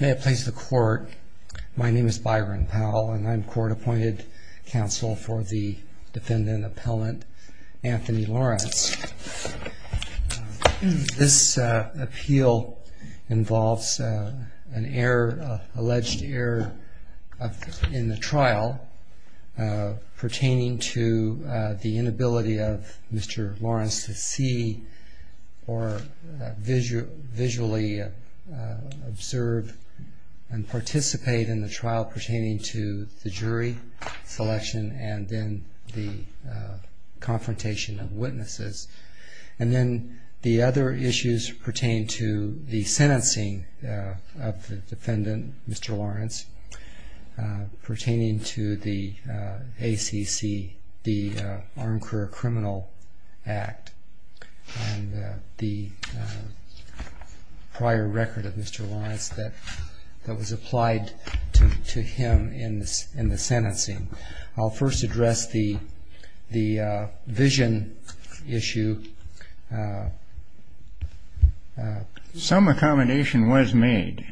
May it please the Court, my name is Byron Powell and I'm Court Appointed Counsel for the Defendant Appellant Anthony Lawrence. This appeal involves an alleged error in the trial pertaining to the inability of Mr. Lawrence to see or visually observe and participate in the trial pertaining to the jury selection and then the confrontation of witnesses. And then the other issues pertain to the sentencing of the defendant Mr. Lawrence pertaining to the ACC, the Armed Career Criminal Act and the prior record of Mr. Lawrence that was applied to him in the sentencing. I'll first address the vision issue. Some accommodation was made,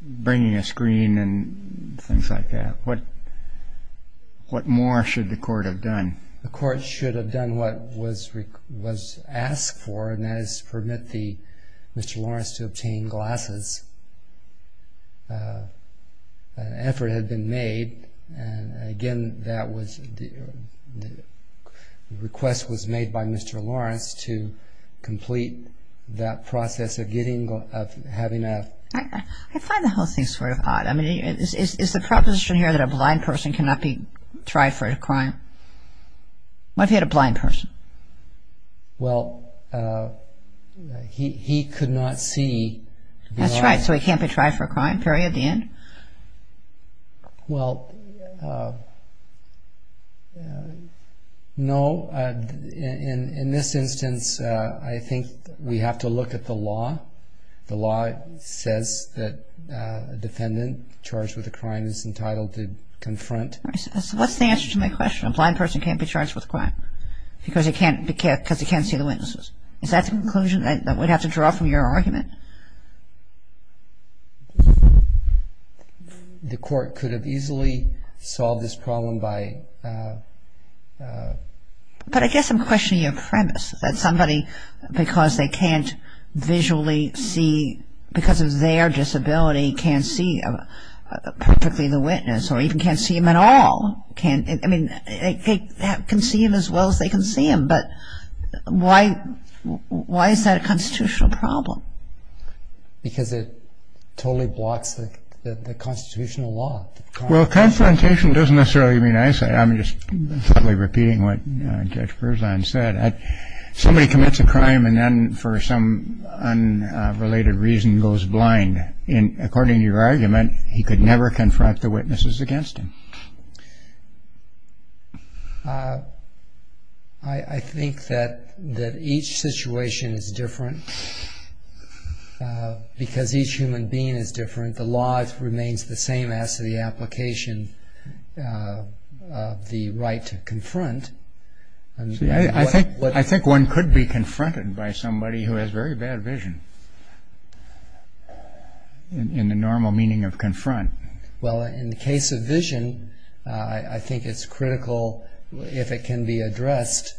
bringing a screen and things like that. What more should the Court have done? The Court should have done what was asked for and that is permit Mr. Lawrence to obtain glasses. An effort had been made and again the request was made by Mr. Lawrence to complete that process of getting glasses. I find the whole thing sort of odd. Is the proposition here that a blind person cannot be tried for a crime? What if you had a blind person? Well, he could not see. That's right, so he can't be tried for a crime period at the end? Well, no. In this instance, I think we have to look at the law. The law says that a defendant charged with a crime is entitled to confront. So what's the answer to my question? A blind person can't be charged with a crime because he can't see the witnesses. Is that the conclusion that we'd have to draw from your argument? The Court could have easily solved this problem by... But I guess I'm questioning your premise that somebody, because they can't visually see, because of their disability, can't see perfectly the witness or even can't see him at all. I mean, they can see him as well as they can see him, but why is that a constitutional problem? Because it totally blocks the constitutional law. Well, confrontation doesn't necessarily mean eyesight. I'm just thoughtfully repeating what Judge Perzan said. Somebody commits a crime and then, for some unrelated reason, goes blind. According to your argument, he could never confront the witnesses against him. I think that each situation is different because each human being is different. The law remains the same as to the application of the right to confront. I think one could be confronted by somebody who has very bad vision, in the normal meaning of confront. Well, in the case of vision, I think it's critical, if it can be addressed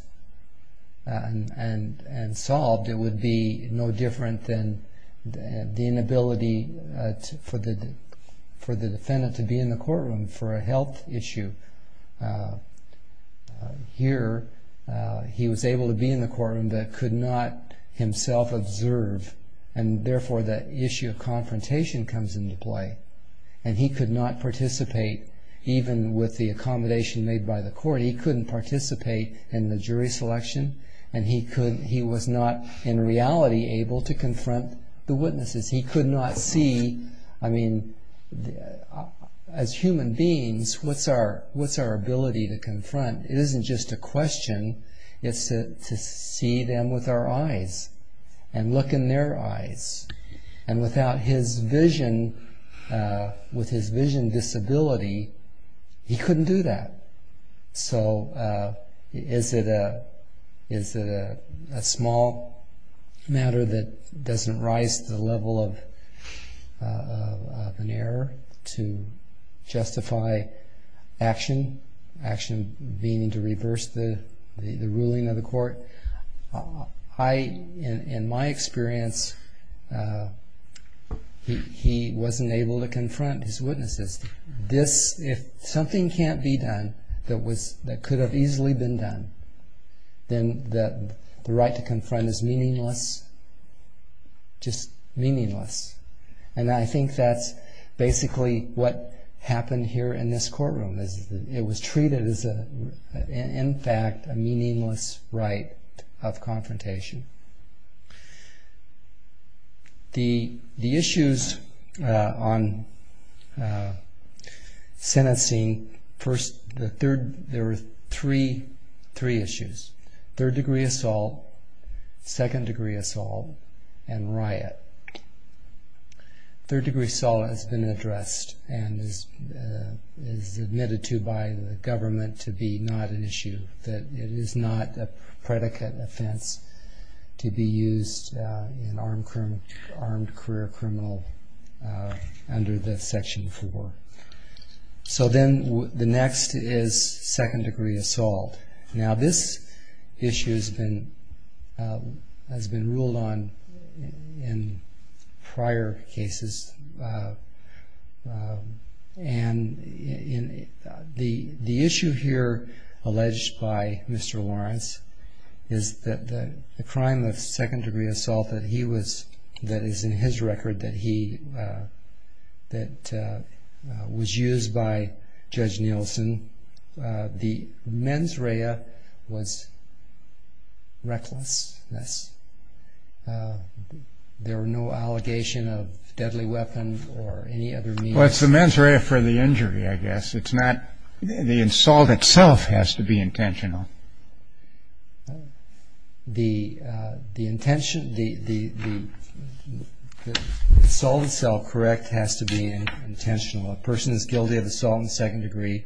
and solved, it would be no different than the inability for the defendant to be in the courtroom for a health issue. Here, he was able to be in the courtroom but could not himself observe, and therefore the issue of confrontation comes into play. And he could not participate, even with the accommodation made by the court, he couldn't participate in the jury selection, and he was not, in reality, able to confront the witnesses. He could not see. As human beings, what's our ability to confront? It isn't just a question, it's to see them with our eyes, and look in their eyes. And without his vision, with his vision disability, he couldn't do that. So is it a small matter that doesn't rise to the level of an error to justify action, action meaning to reverse the ruling of the court? In my experience, he wasn't able to confront his witnesses. If something can't be done that could have easily been done, then the right to confront is meaningless, just meaningless. And I think that's basically what happened here in this courtroom. It was treated as, in fact, a meaningless right of confrontation. The issues on sentencing, there were three issues. Third degree assault, second degree assault, and riot. Third degree assault has been addressed, and is admitted to by the government to be not an issue, that it is not a predicate offense to be used in armed career criminal under the Section 4. So then the next is second degree assault. Now this issue has been ruled on in prior cases, and the issue here alleged by Mr. Lawrence is that the crime of second degree assault that he was, that is in his record, that was used by Judge Nielsen, the mens rea was recklessness. There were no allegations of deadly weapons or any other means. Well, it's the mens rea for the injury, I guess. The assault itself has to be intentional. The assault itself, correct, has to be intentional. A person is guilty of assault in the second degree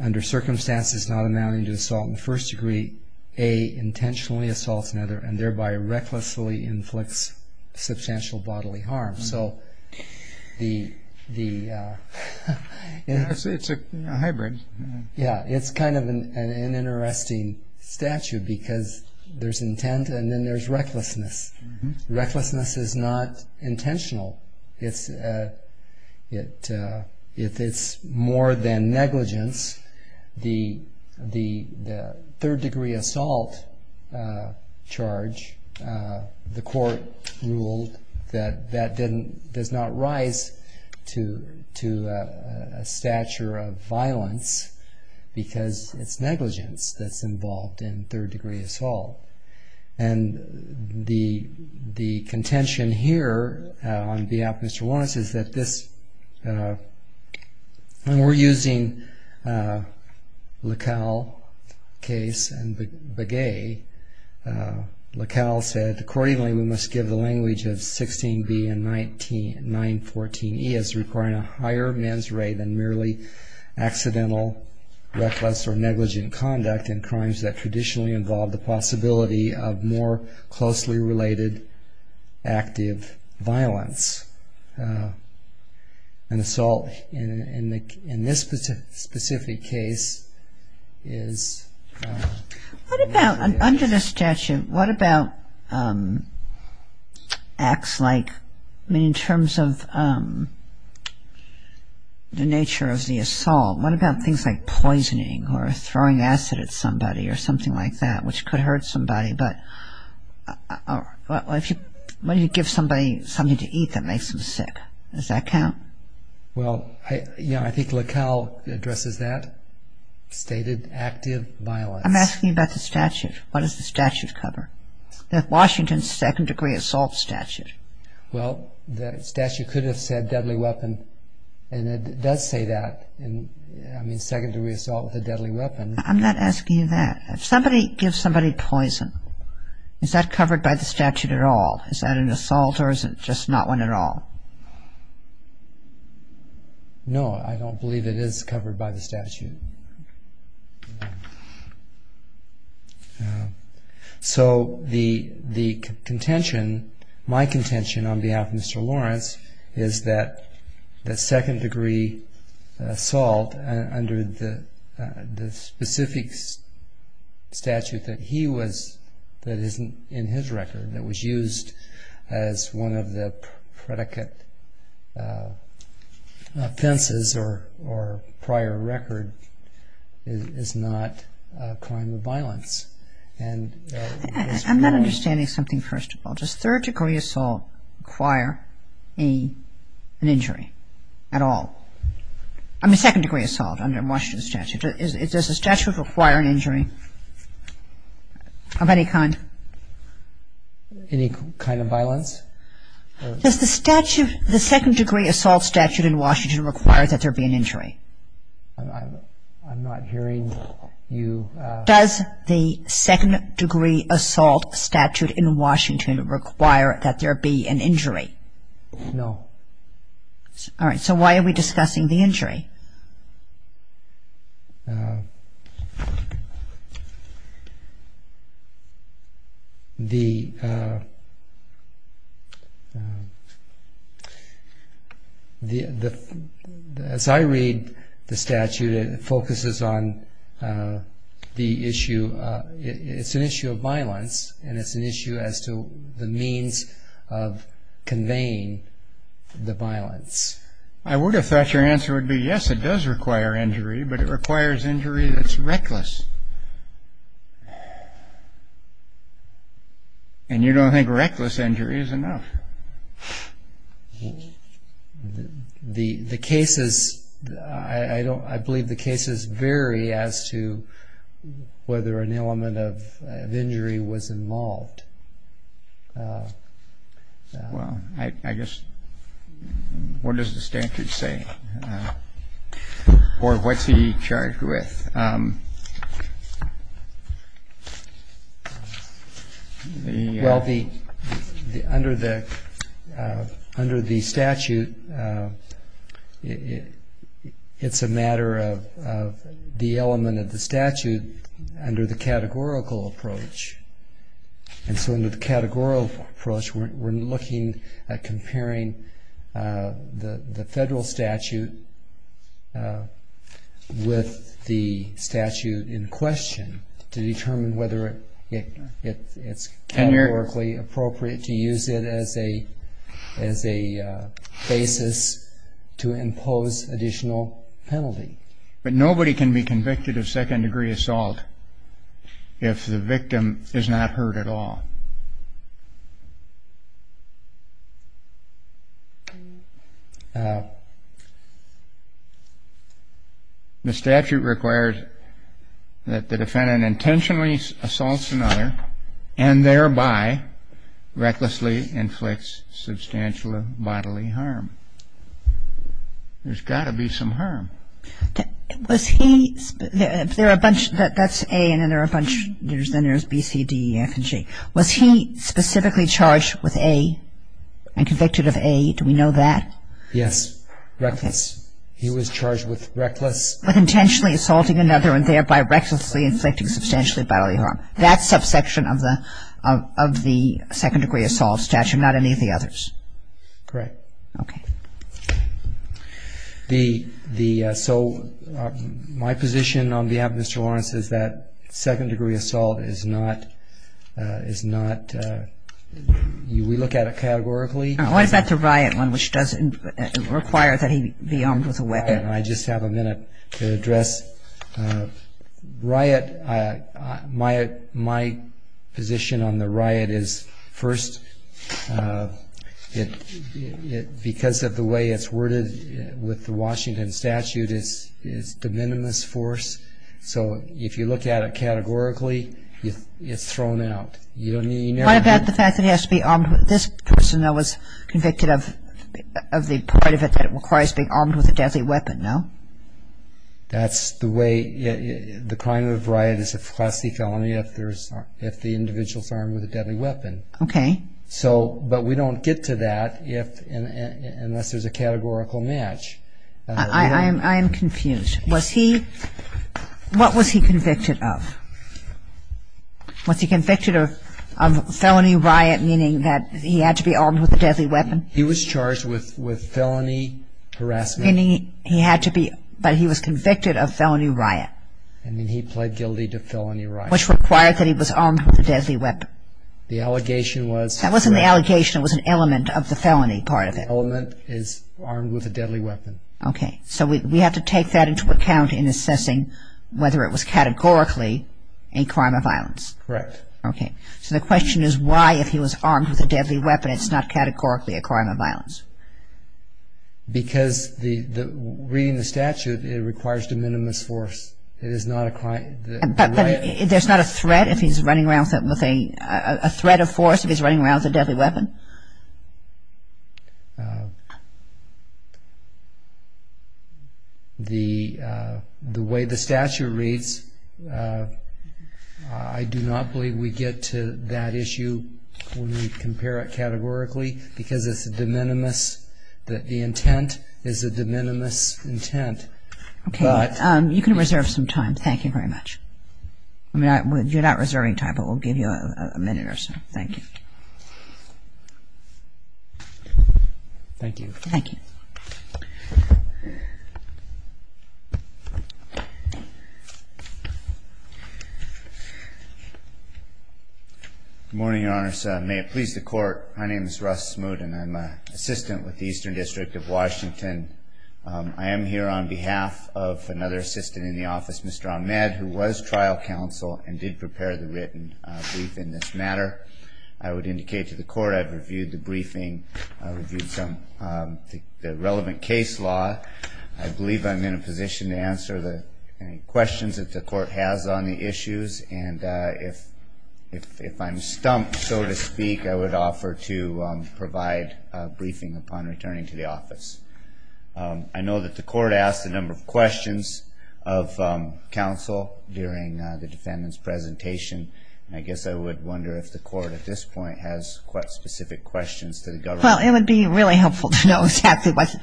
under circumstances not amounting to assault in the first degree, intentionally assaults another, and thereby recklessly inflicts substantial bodily harm. So it's a hybrid. Yeah, it's kind of an interesting statute because there's intent and then there's recklessness. Recklessness is not intentional. If it's more than negligence, the third degree assault charge, the court ruled that that does not rise to a stature of violence because it's negligence that's involved in third degree assault. And the contention here on behalf of Mr. Lawrence is that this, when we're using LaCalle case and Begay, LaCalle said, Accordingly, we must give the language of 16b and 914e as requiring a higher mens rea than merely accidental reckless or negligent conduct in crimes that traditionally involved the possibility of more closely related active violence. An assault in this specific case is... Under the statute, what about acts like, in terms of the nature of the assault, what about things like poisoning or throwing acid at somebody or something like that, which could hurt somebody, but when you give somebody something to eat that makes them sick, does that count? Well, yeah, I think LaCalle addresses that, stated active violence. I'm asking about the statute. What does the statute cover? The Washington Second Degree Assault Statute. Well, the statute could have said deadly weapon, and it does say that, I mean, second degree assault with a deadly weapon. I'm not asking you that. If somebody gives somebody poison, is that covered by the statute at all? Is that an assault or is it just not one at all? No, I don't believe it is covered by the statute. So, the contention, my contention on behalf of Mr. Lawrence is that the second degree assault under the specific statute that he was, that isn't in his record, that was used as one of the predicate offenses or prior record, is not a crime of violence. I'm not understanding something, first of all. Does third degree assault require an injury at all? I mean, second degree assault under Washington statute. Does the statute require an injury of any kind? Any kind of violence? Does the statute, the second degree assault statute in Washington require that there be an injury? I'm not hearing you. Does the second degree assault statute in Washington require that there be an injury? No. All right, so why are we discussing the injury? The, as I read the statute, it focuses on the issue, it's an issue of violence and it's an issue as to the means of conveying the violence. I would have thought your answer would be, yes, it does require injury, but it requires injury that's reckless. And you don't think reckless injury is enough. The cases, I believe the cases vary as to whether an element of injury was involved. Well, I guess, what does the statute say? Or what's he charged with? Well, under the statute, it's a matter of the element of the statute under the categorical approach. And so under the categorical approach, we're looking at comparing the federal statute with the statute in question to determine whether it's categorically appropriate to use it as a basis to impose additional penalty. But nobody can be convicted of second degree assault if the victim is not hurt at all. The statute requires that the defendant intentionally assaults another and thereby recklessly inflicts substantial bodily harm. There's got to be some harm. Was he, there are a bunch, that's A and then there are a bunch, then there's B, C, D, E, F, and G. Was he specifically charged with A and convicted of A? Do we know that? Yes, reckless. He was charged with reckless. With intentionally assaulting another and thereby recklessly inflicting substantially bodily harm. That's subsection of the second degree assault statute, not any of the others. Correct. Okay. The, so my position on behalf of Mr. Lawrence is that second degree assault is not, is not, we look at it categorically. Why is that the riot one, which doesn't require that he be armed with a weapon? I just have a minute to address riot. My position on the riot is first, because of the way it's worded with the Washington statute, it's de minimis force. So if you look at it categorically, it's thrown out. What about the fact that he has to be armed with, this person though was convicted of the part of it that requires being armed with a deadly weapon, no? That's the way, the crime of a riot is a class C felony if there's, if the individual's armed with a deadly weapon. Okay. So, but we don't get to that if, unless there's a categorical match. I am confused. Was he, what was he convicted of? Was he convicted of felony riot, meaning that he had to be armed with a deadly weapon? He was charged with felony harassment. Meaning he had to be, but he was convicted of felony riot. And then he pled guilty to felony riot. Which required that he was armed with a deadly weapon. The allegation was. That wasn't the allegation, it was an element of the felony part of it. The element is armed with a deadly weapon. Okay, so we have to take that into account in assessing whether it was categorically a crime of violence. Correct. Okay, so the question is why if he was armed with a deadly weapon, it's not categorically a crime of violence? Because the, reading the statute, it requires de minimis force. It is not a crime. But there's not a threat if he's running around with a, a threat of force if he's running around with a deadly weapon? The, the way the statute reads, I do not believe we get to that issue when we compare it categorically. Because it's a de minimis, the intent is a de minimis intent. Okay, you can reserve some time. Thank you very much. I mean, you're not reserving time, but we'll give you a minute or so. Thank you. Thank you. Thank you. Thank you. Good morning, Your Honors. May it please the Court. My name is Russ Smoot, and I'm an assistant with the Eastern District of Washington. I am here on behalf of another assistant in the office, Mr. Ahmed, who was trial counsel and did prepare the written brief in this matter. I would indicate to the Court I've reviewed the briefing, reviewed some, the relevant case law. I believe I'm in a position to answer the questions that the Court has on the issues. And if, if I'm stumped, so to speak, I would offer to provide a briefing upon returning to the office. I know that the Court asked a number of questions of counsel during the defendant's presentation. And I guess I would wonder if the Court at this point has quite specific questions to the government. Well, it would be really helpful to know exactly what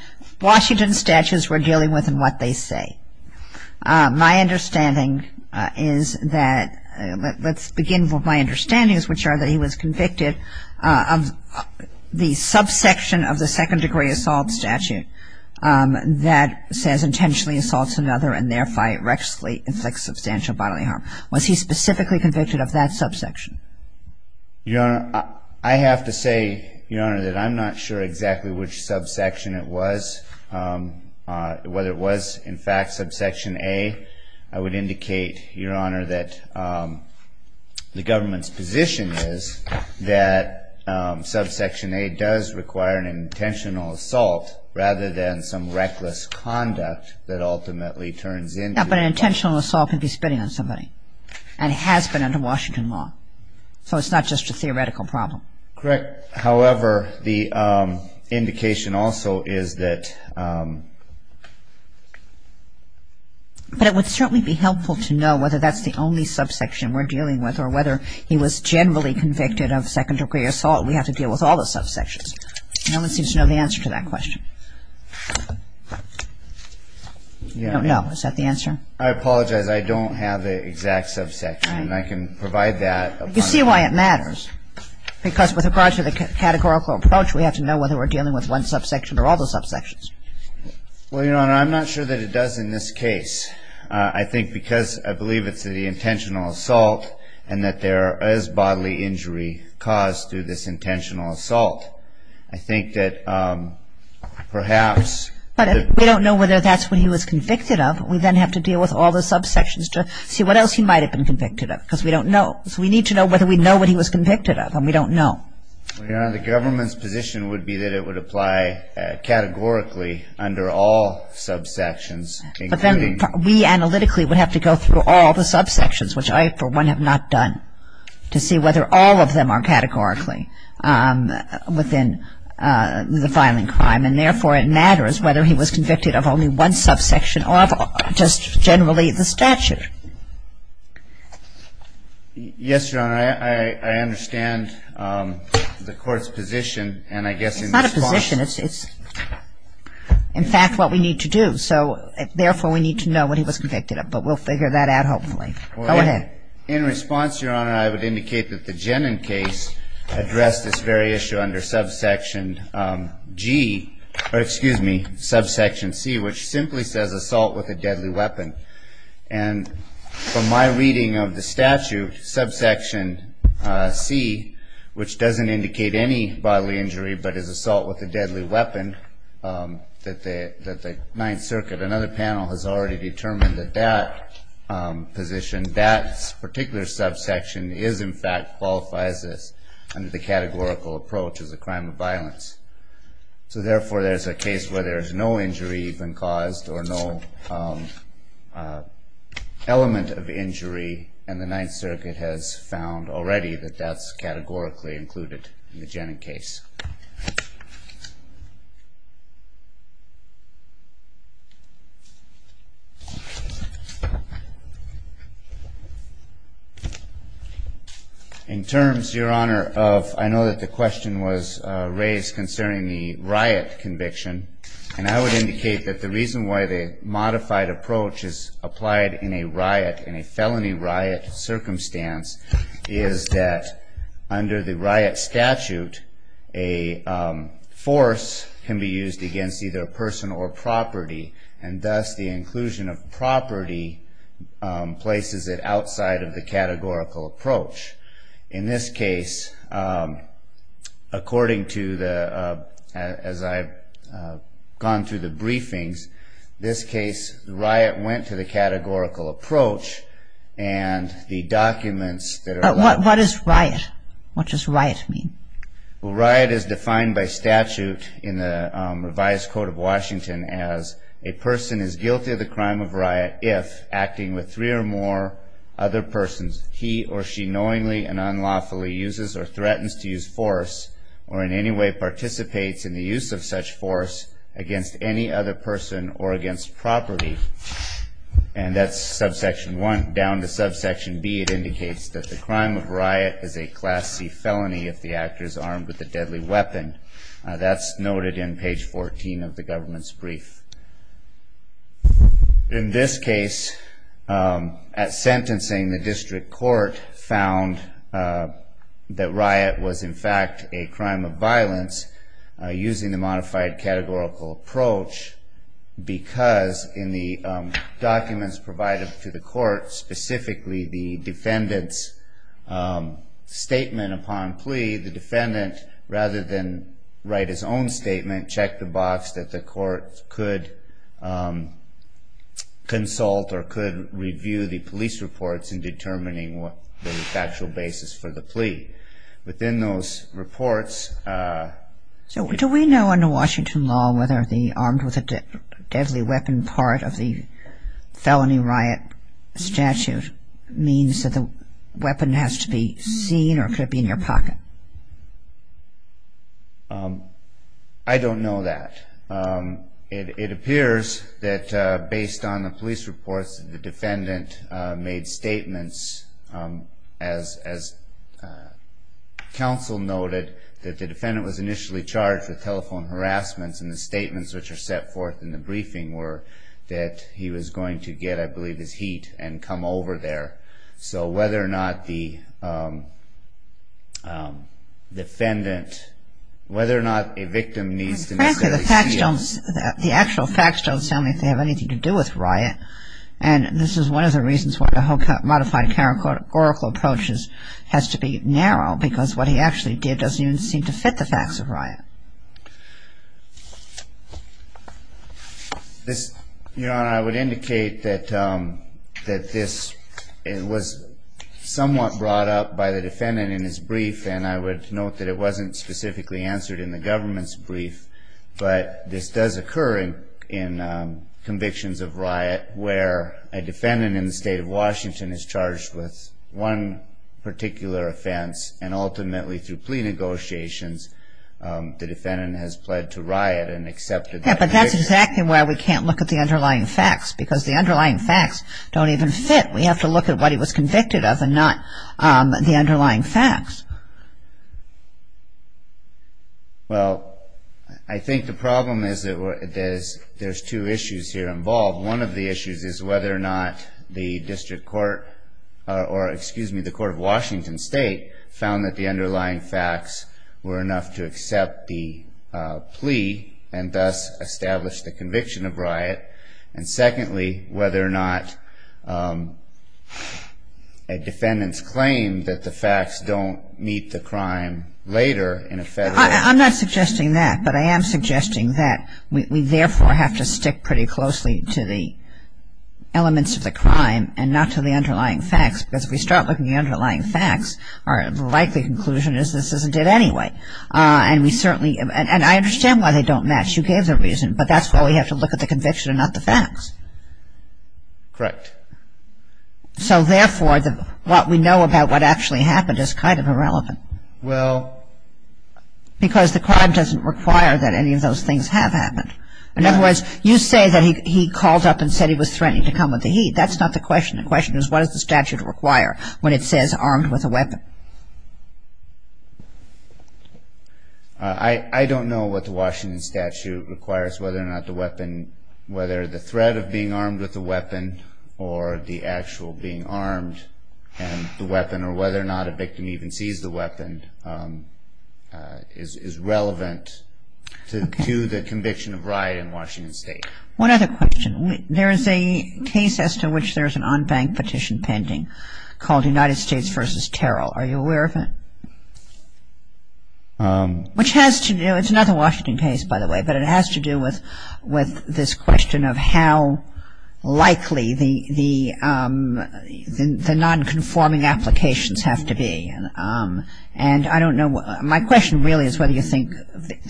Washington statutes we're dealing with and what they say. My understanding is that, let's begin with my understandings, which are that he was convicted of the subsection of the Second Degree Assault Statute that says intentionally assaults another and, therefore, erectly inflicts substantial bodily harm. Was he specifically convicted of that subsection? Your Honor, I have to say, Your Honor, that I'm not sure exactly which subsection it was. Whether it was, in fact, subsection A, I would indicate, Your Honor, that the government's position is that subsection A does require an intentional assault rather than some reckless conduct that ultimately turns into an assault. Yeah, but an intentional assault could be spitting on somebody and has been under Washington law. So it's not just a theoretical problem. Correct. However, the indication also is that... But it would certainly be helpful to know whether that's the only subsection we're dealing with or whether he was generally convicted of second degree assault. We have to deal with all the subsections. No one seems to know the answer to that question. I don't know. Is that the answer? I apologize. I don't have the exact subsection. I can provide that. You see why it matters. Because with regard to the categorical approach, we have to know whether we're dealing with one subsection or all the subsections. Well, Your Honor, I'm not sure that it does in this case. I think because I believe it's the intentional assault and that there is bodily injury caused through this intentional assault. I think that perhaps... But we don't know whether that's what he was convicted of. We then have to deal with all the subsections to see what else he might have been convicted of because we don't know. So we need to know whether we know what he was convicted of and we don't know. Your Honor, the government's position would be that it would apply categorically under all subsections. But then we analytically would have to go through all the subsections, which I, for one, have not done, to see whether all of them are categorically. is whether he was convicted of bodily injury within the violent crime. And therefore, it matters whether he was convicted of only one subsection or just generally the statute. Yes, Your Honor. I understand the Court's position and I guess... It's not a position. It's in fact what we need to do. So therefore, we need to know what he was convicted of. But we'll figure that out hopefully. Go ahead. In response, Your Honor, I would indicate that the Jenin case addressed this very issue under subsection G, or excuse me, subsection C, which simply says assault with a deadly weapon. And from my reading of the statute, subsection C, which doesn't indicate any bodily injury but is assault with a deadly weapon, that the Ninth Circuit, another panel, has already determined that that position, that particular subsection, is in fact qualifies as under the categorical approach as a crime of violence. So therefore, there's a case where there's no injury even caused or no element of injury, and the Ninth Circuit has found already that that's categorically included in the Jenin case. In terms, Your Honor, of... I know that the question was raised concerning the riot conviction, and I would indicate that the reason why the modified approach is applied in a riot, in a felony riot circumstance, is that under the riot statute, a force can be used against either a person or property, and thus the inclusion of property places it outside of the categorical approach. In this case, according to the... As I've gone through the briefings, this case, the riot went to the categorical approach, and the documents that are... What is riot? What does riot mean? Well, riot is defined by statute in the revised Code of Washington as a person is guilty of the crime of riot if acting with three or more other persons, he or she knowingly and unlawfully uses or threatens to use force or in any way participates in the use of such force against any other person or against property. And that's subsection 1. Down to subsection B, it indicates that the crime of riot is a Class C felony if the actor is armed with a deadly weapon. In this case, at sentencing, the district court found that riot was, in fact, a crime of violence using the modified categorical approach because in the documents provided to the court, specifically the defendant's statement upon plea, the defendant, rather than write his own statement, the defendant checked the box that the court could consult or could review the police reports in determining the factual basis for the plea. Within those reports... So do we know under Washington law whether the armed with a deadly weapon part of the felony riot statute means that the weapon has to be seen or could be in your pocket? I don't know that. It appears that based on the police reports, the defendant made statements, as counsel noted, that the defendant was initially charged with telephone harassment and the statements which are set forth in the briefing were that he was going to get, I believe, his heat and come over there. So whether or not the defendant, whether or not a victim needs to necessarily see... The actual facts don't sound like they have anything to do with riot and this is one of the reasons why the modified categorical approach has to be narrow because what he actually did doesn't even seem to fit the facts of riot. Your Honor, I would indicate that this was somewhat brought up by the defendant in his brief and I would note that it wasn't specifically answered in the government's brief, but this does occur in convictions of riot where a defendant in the state of Washington is charged with one particular offense and ultimately through plea negotiations, the defendant has pled to riot and accepted that conviction. Yeah, but that's exactly why we can't look at the underlying facts because the underlying facts don't even fit. We have to look at what he was convicted of and not the underlying facts. Well, I think the problem is that there's two issues here involved. One of the issues is whether or not the district court or, excuse me, the court of Washington State found that the underlying facts were enough to accept the plea and thus establish the conviction of riot. And secondly, whether or not a defendant's claim that the facts don't meet the crime later in a federal... I'm not suggesting that, but I am suggesting that we therefore have to stick pretty closely to the elements of the crime and not to the underlying facts because if we start looking at the underlying facts, our likely conclusion is this isn't it anyway. And we certainly... And I understand why they don't match. You gave the reason, but that's why we have to look at the conviction and not the facts. Correct. So therefore, what we know about what actually happened is kind of irrelevant. Well... Because the crime doesn't require that any of those things have happened. In other words, you say that he called up and said he was threatening to come with the heat. That's not the question. The question is what does the statute require when it says armed with a weapon? I don't know what the Washington statute requires, whether or not the weapon... whether the threat of being armed with a weapon or the actual being armed and the weapon or whether or not a victim even sees the weapon is relevant to the conviction of riot in Washington State. One other question. There is a case as to which there is an unbanked petition pending called United States v. Terrell. Are you aware of it? Which has to do... It's another Washington case, by the way, but it has to do with this question of how likely the nonconforming applications have to be. And I don't know... My question really is whether you think...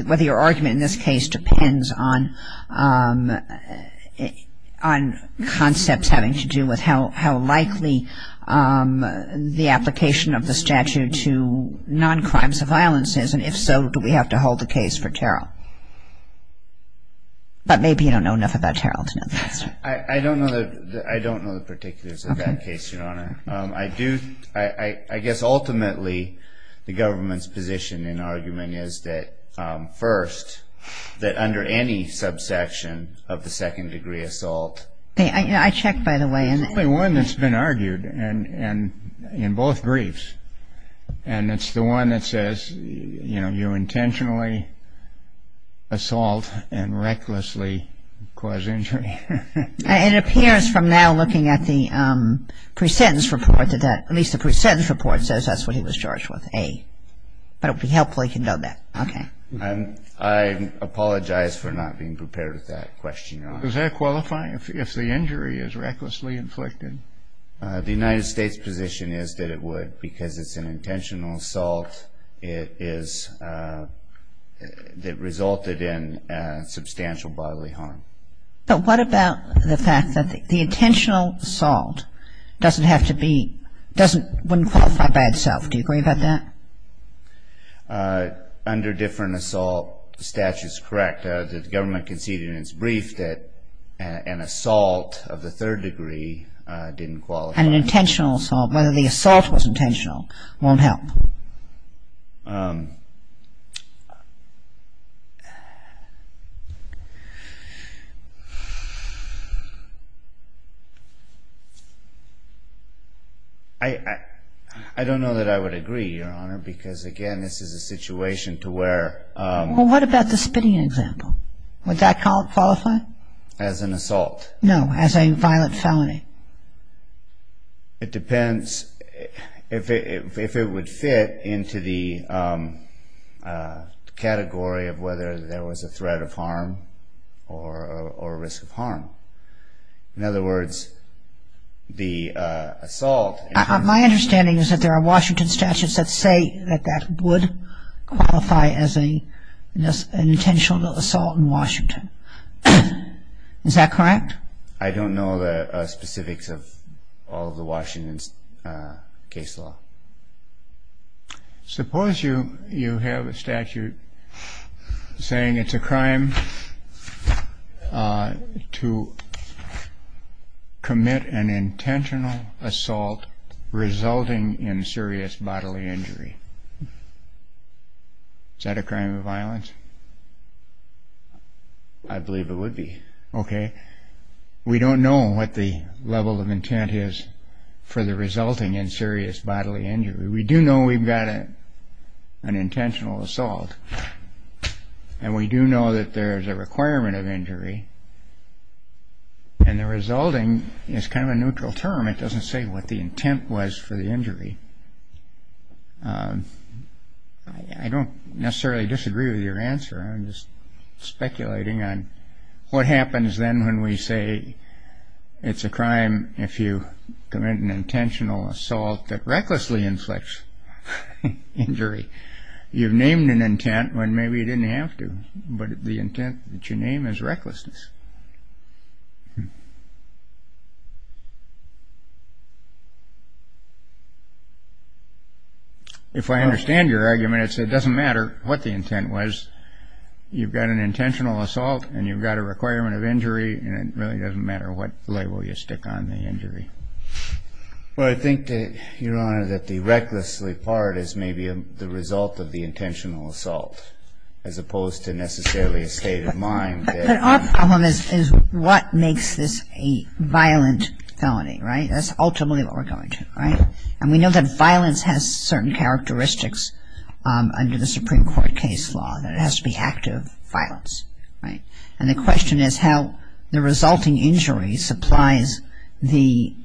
whether your argument in this case depends on concepts having to do with how likely the application of the statute to noncrimes of violence is, and if so, do we have to hold the case for Terrell? But maybe you don't know enough about Terrell to know the answer. I don't know the particulars of that case, Your Honor. Okay. My position in argument is that, first, that under any subsection of the second degree assault... I checked, by the way. There's only one that's been argued in both briefs, and it's the one that says you intentionally assault and recklessly cause injury. It appears from now looking at the pre-sentence report that that... But it would be helpful if you know that. Okay. I apologize for not being prepared with that question, Your Honor. Does that qualify if the injury is recklessly inflicted? The United States position is that it would, because it's an intentional assault. It is... It resulted in substantial bodily harm. But what about the fact that the intentional assault doesn't have to be... wouldn't qualify by itself. Do you agree about that? Under different assault statutes, correct. The government conceded in its brief that an assault of the third degree didn't qualify. An intentional assault. Whether the assault was intentional won't help. I don't know that I would agree, Your Honor, because, again, this is a situation to where... Well, what about the spitting example? Would that qualify? As an assault? No, as a violent felony. If it wouldn't fit, it would fit. It wouldn't fit into the category of whether there was a threat of harm or a risk of harm. In other words, the assault... My understanding is that there are Washington statutes that say that that would qualify as an intentional assault in Washington. Is that correct? I don't know the specifics of all of the Washington case law. Suppose you have a statute saying it's a crime to commit an intentional assault resulting in serious bodily injury. Is that a crime of violence? I believe it would be. Okay. We don't know what the level of intent is for the resulting in serious bodily injury. We do know we've got an intentional assault. And we do know that there is a requirement of injury. And the resulting is kind of a neutral term. It doesn't say what the intent was for the injury. I don't necessarily disagree with your answer. I'm just speculating on what happens then when we say it's a crime if you commit an intentional assault that recklessly inflicts injury. You've named an intent when maybe you didn't have to. But the intent that you name is recklessness. If I understand your argument, it doesn't matter what the intent was. You've got an intentional assault. And you've got a requirement of injury. And it really doesn't matter what label you stick on the injury. Well, I think, Your Honor, that the recklessly part is maybe the result of the intentional assault as opposed to necessarily a state of mind. But our problem is what makes this a violent felony, right? That's ultimately what we're coming to, right? And we know that violence has certain characteristics under the Supreme Court case law, that it has to be active violence, right? And the question is how the resulting injury supplies the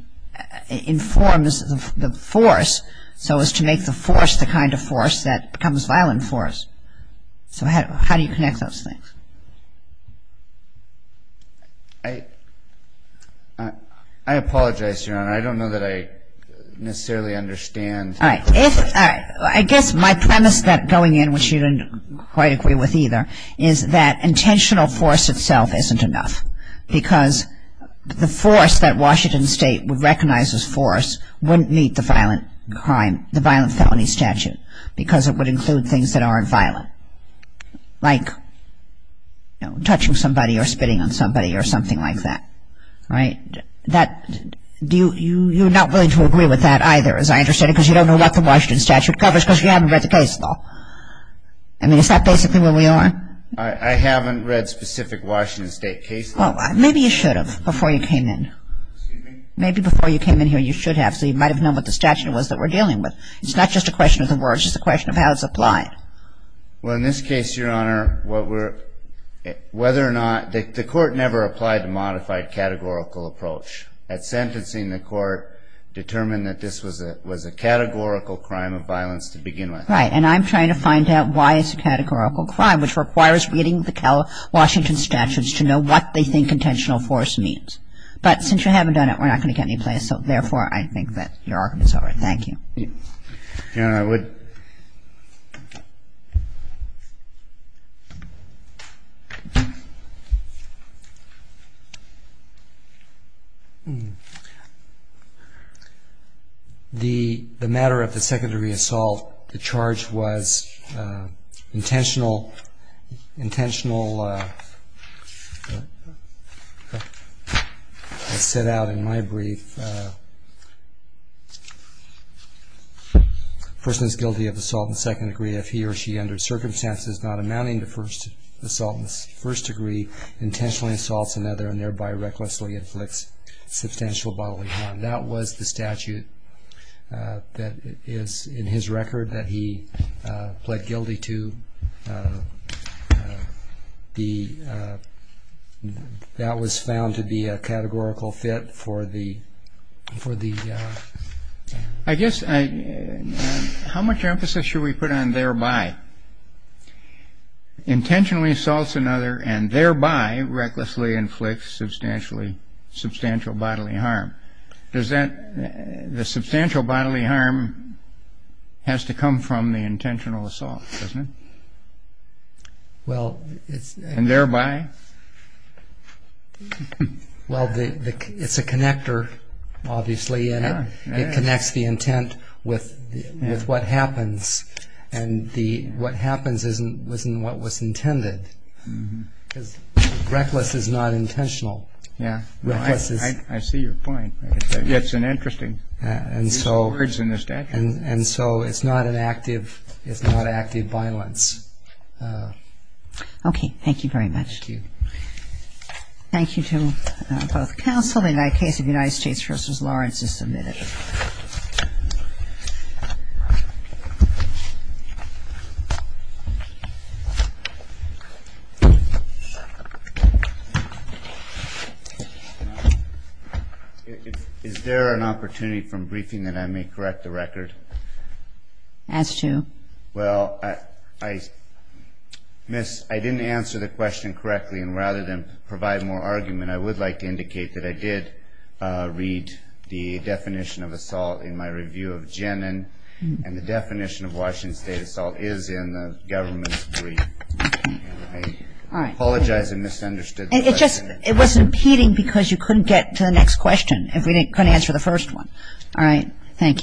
‑‑ informs the force so as to make the force the kind of force that becomes violent force. So how do you connect those things? I apologize, Your Honor. I don't know that I necessarily understand. All right. I guess my premise going in, which you didn't quite agree with either, is that intentional force itself isn't enough. Because the force that Washington State would recognize as force wouldn't meet the violent crime, the violent felony statute, because it would include things that aren't violent. Like touching somebody or spitting on somebody or something like that, right? You're not willing to agree with that either, as I understand it, because you don't know what the Washington statute covers because you haven't read the case law. I mean, is that basically where we are? I haven't read specific Washington State cases. Well, maybe you should have before you came in. Excuse me? Maybe before you came in here you should have, so you might have known what the statute was that we're dealing with. It's not just a question of the words. It's a question of how it's applied. Well, in this case, Your Honor, whether or not the court never applied a modified categorical approach. At sentencing, the court determined that this was a categorical crime of violence to begin with. Right. And I'm trying to find out why it's a categorical crime, which requires reading the Washington statutes to know what they think intentional force means. But since you haven't done it, we're not going to get any place. So therefore, I think that your argument is over. Thank you. Your Honor, I would. The matter of the second degree assault, the charge was intentional. Intentional. It's set out in my brief. If a person is guilty of assault in the second degree, if he or she, under circumstances not amounting to assault in the first degree, intentionally assaults another and thereby recklessly inflicts substantial bodily harm. That was the statute that is in his record that he pled guilty to. That was found to be a categorical fit for the. I guess, how much emphasis should we put on thereby? Intentionally assaults another and thereby recklessly inflicts substantial bodily harm. The substantial bodily harm has to come from the intentional assault, doesn't it? And thereby? Well, it's a connector, obviously, and it connects the intent with what happens. And what happens isn't what was intended. Because reckless is not intentional. Yeah. I see your point. It's an interesting word in the statute. And so it's not an active, it's not active violence. Okay. Thank you very much. Thank you. Thank you to both counsel. The case of United States v. Lawrence is submitted. Is there an opportunity from briefing that I may correct the record? As to? Well, I missed, I didn't answer the question correctly. And rather than provide more argument, I would like to indicate that I did read the definition of the statute. And the definition of Washington State assault is in the government's brief. I apologize if I misunderstood. It was impeding because you couldn't get to the next question if we couldn't answer the first one. All right. Thank you.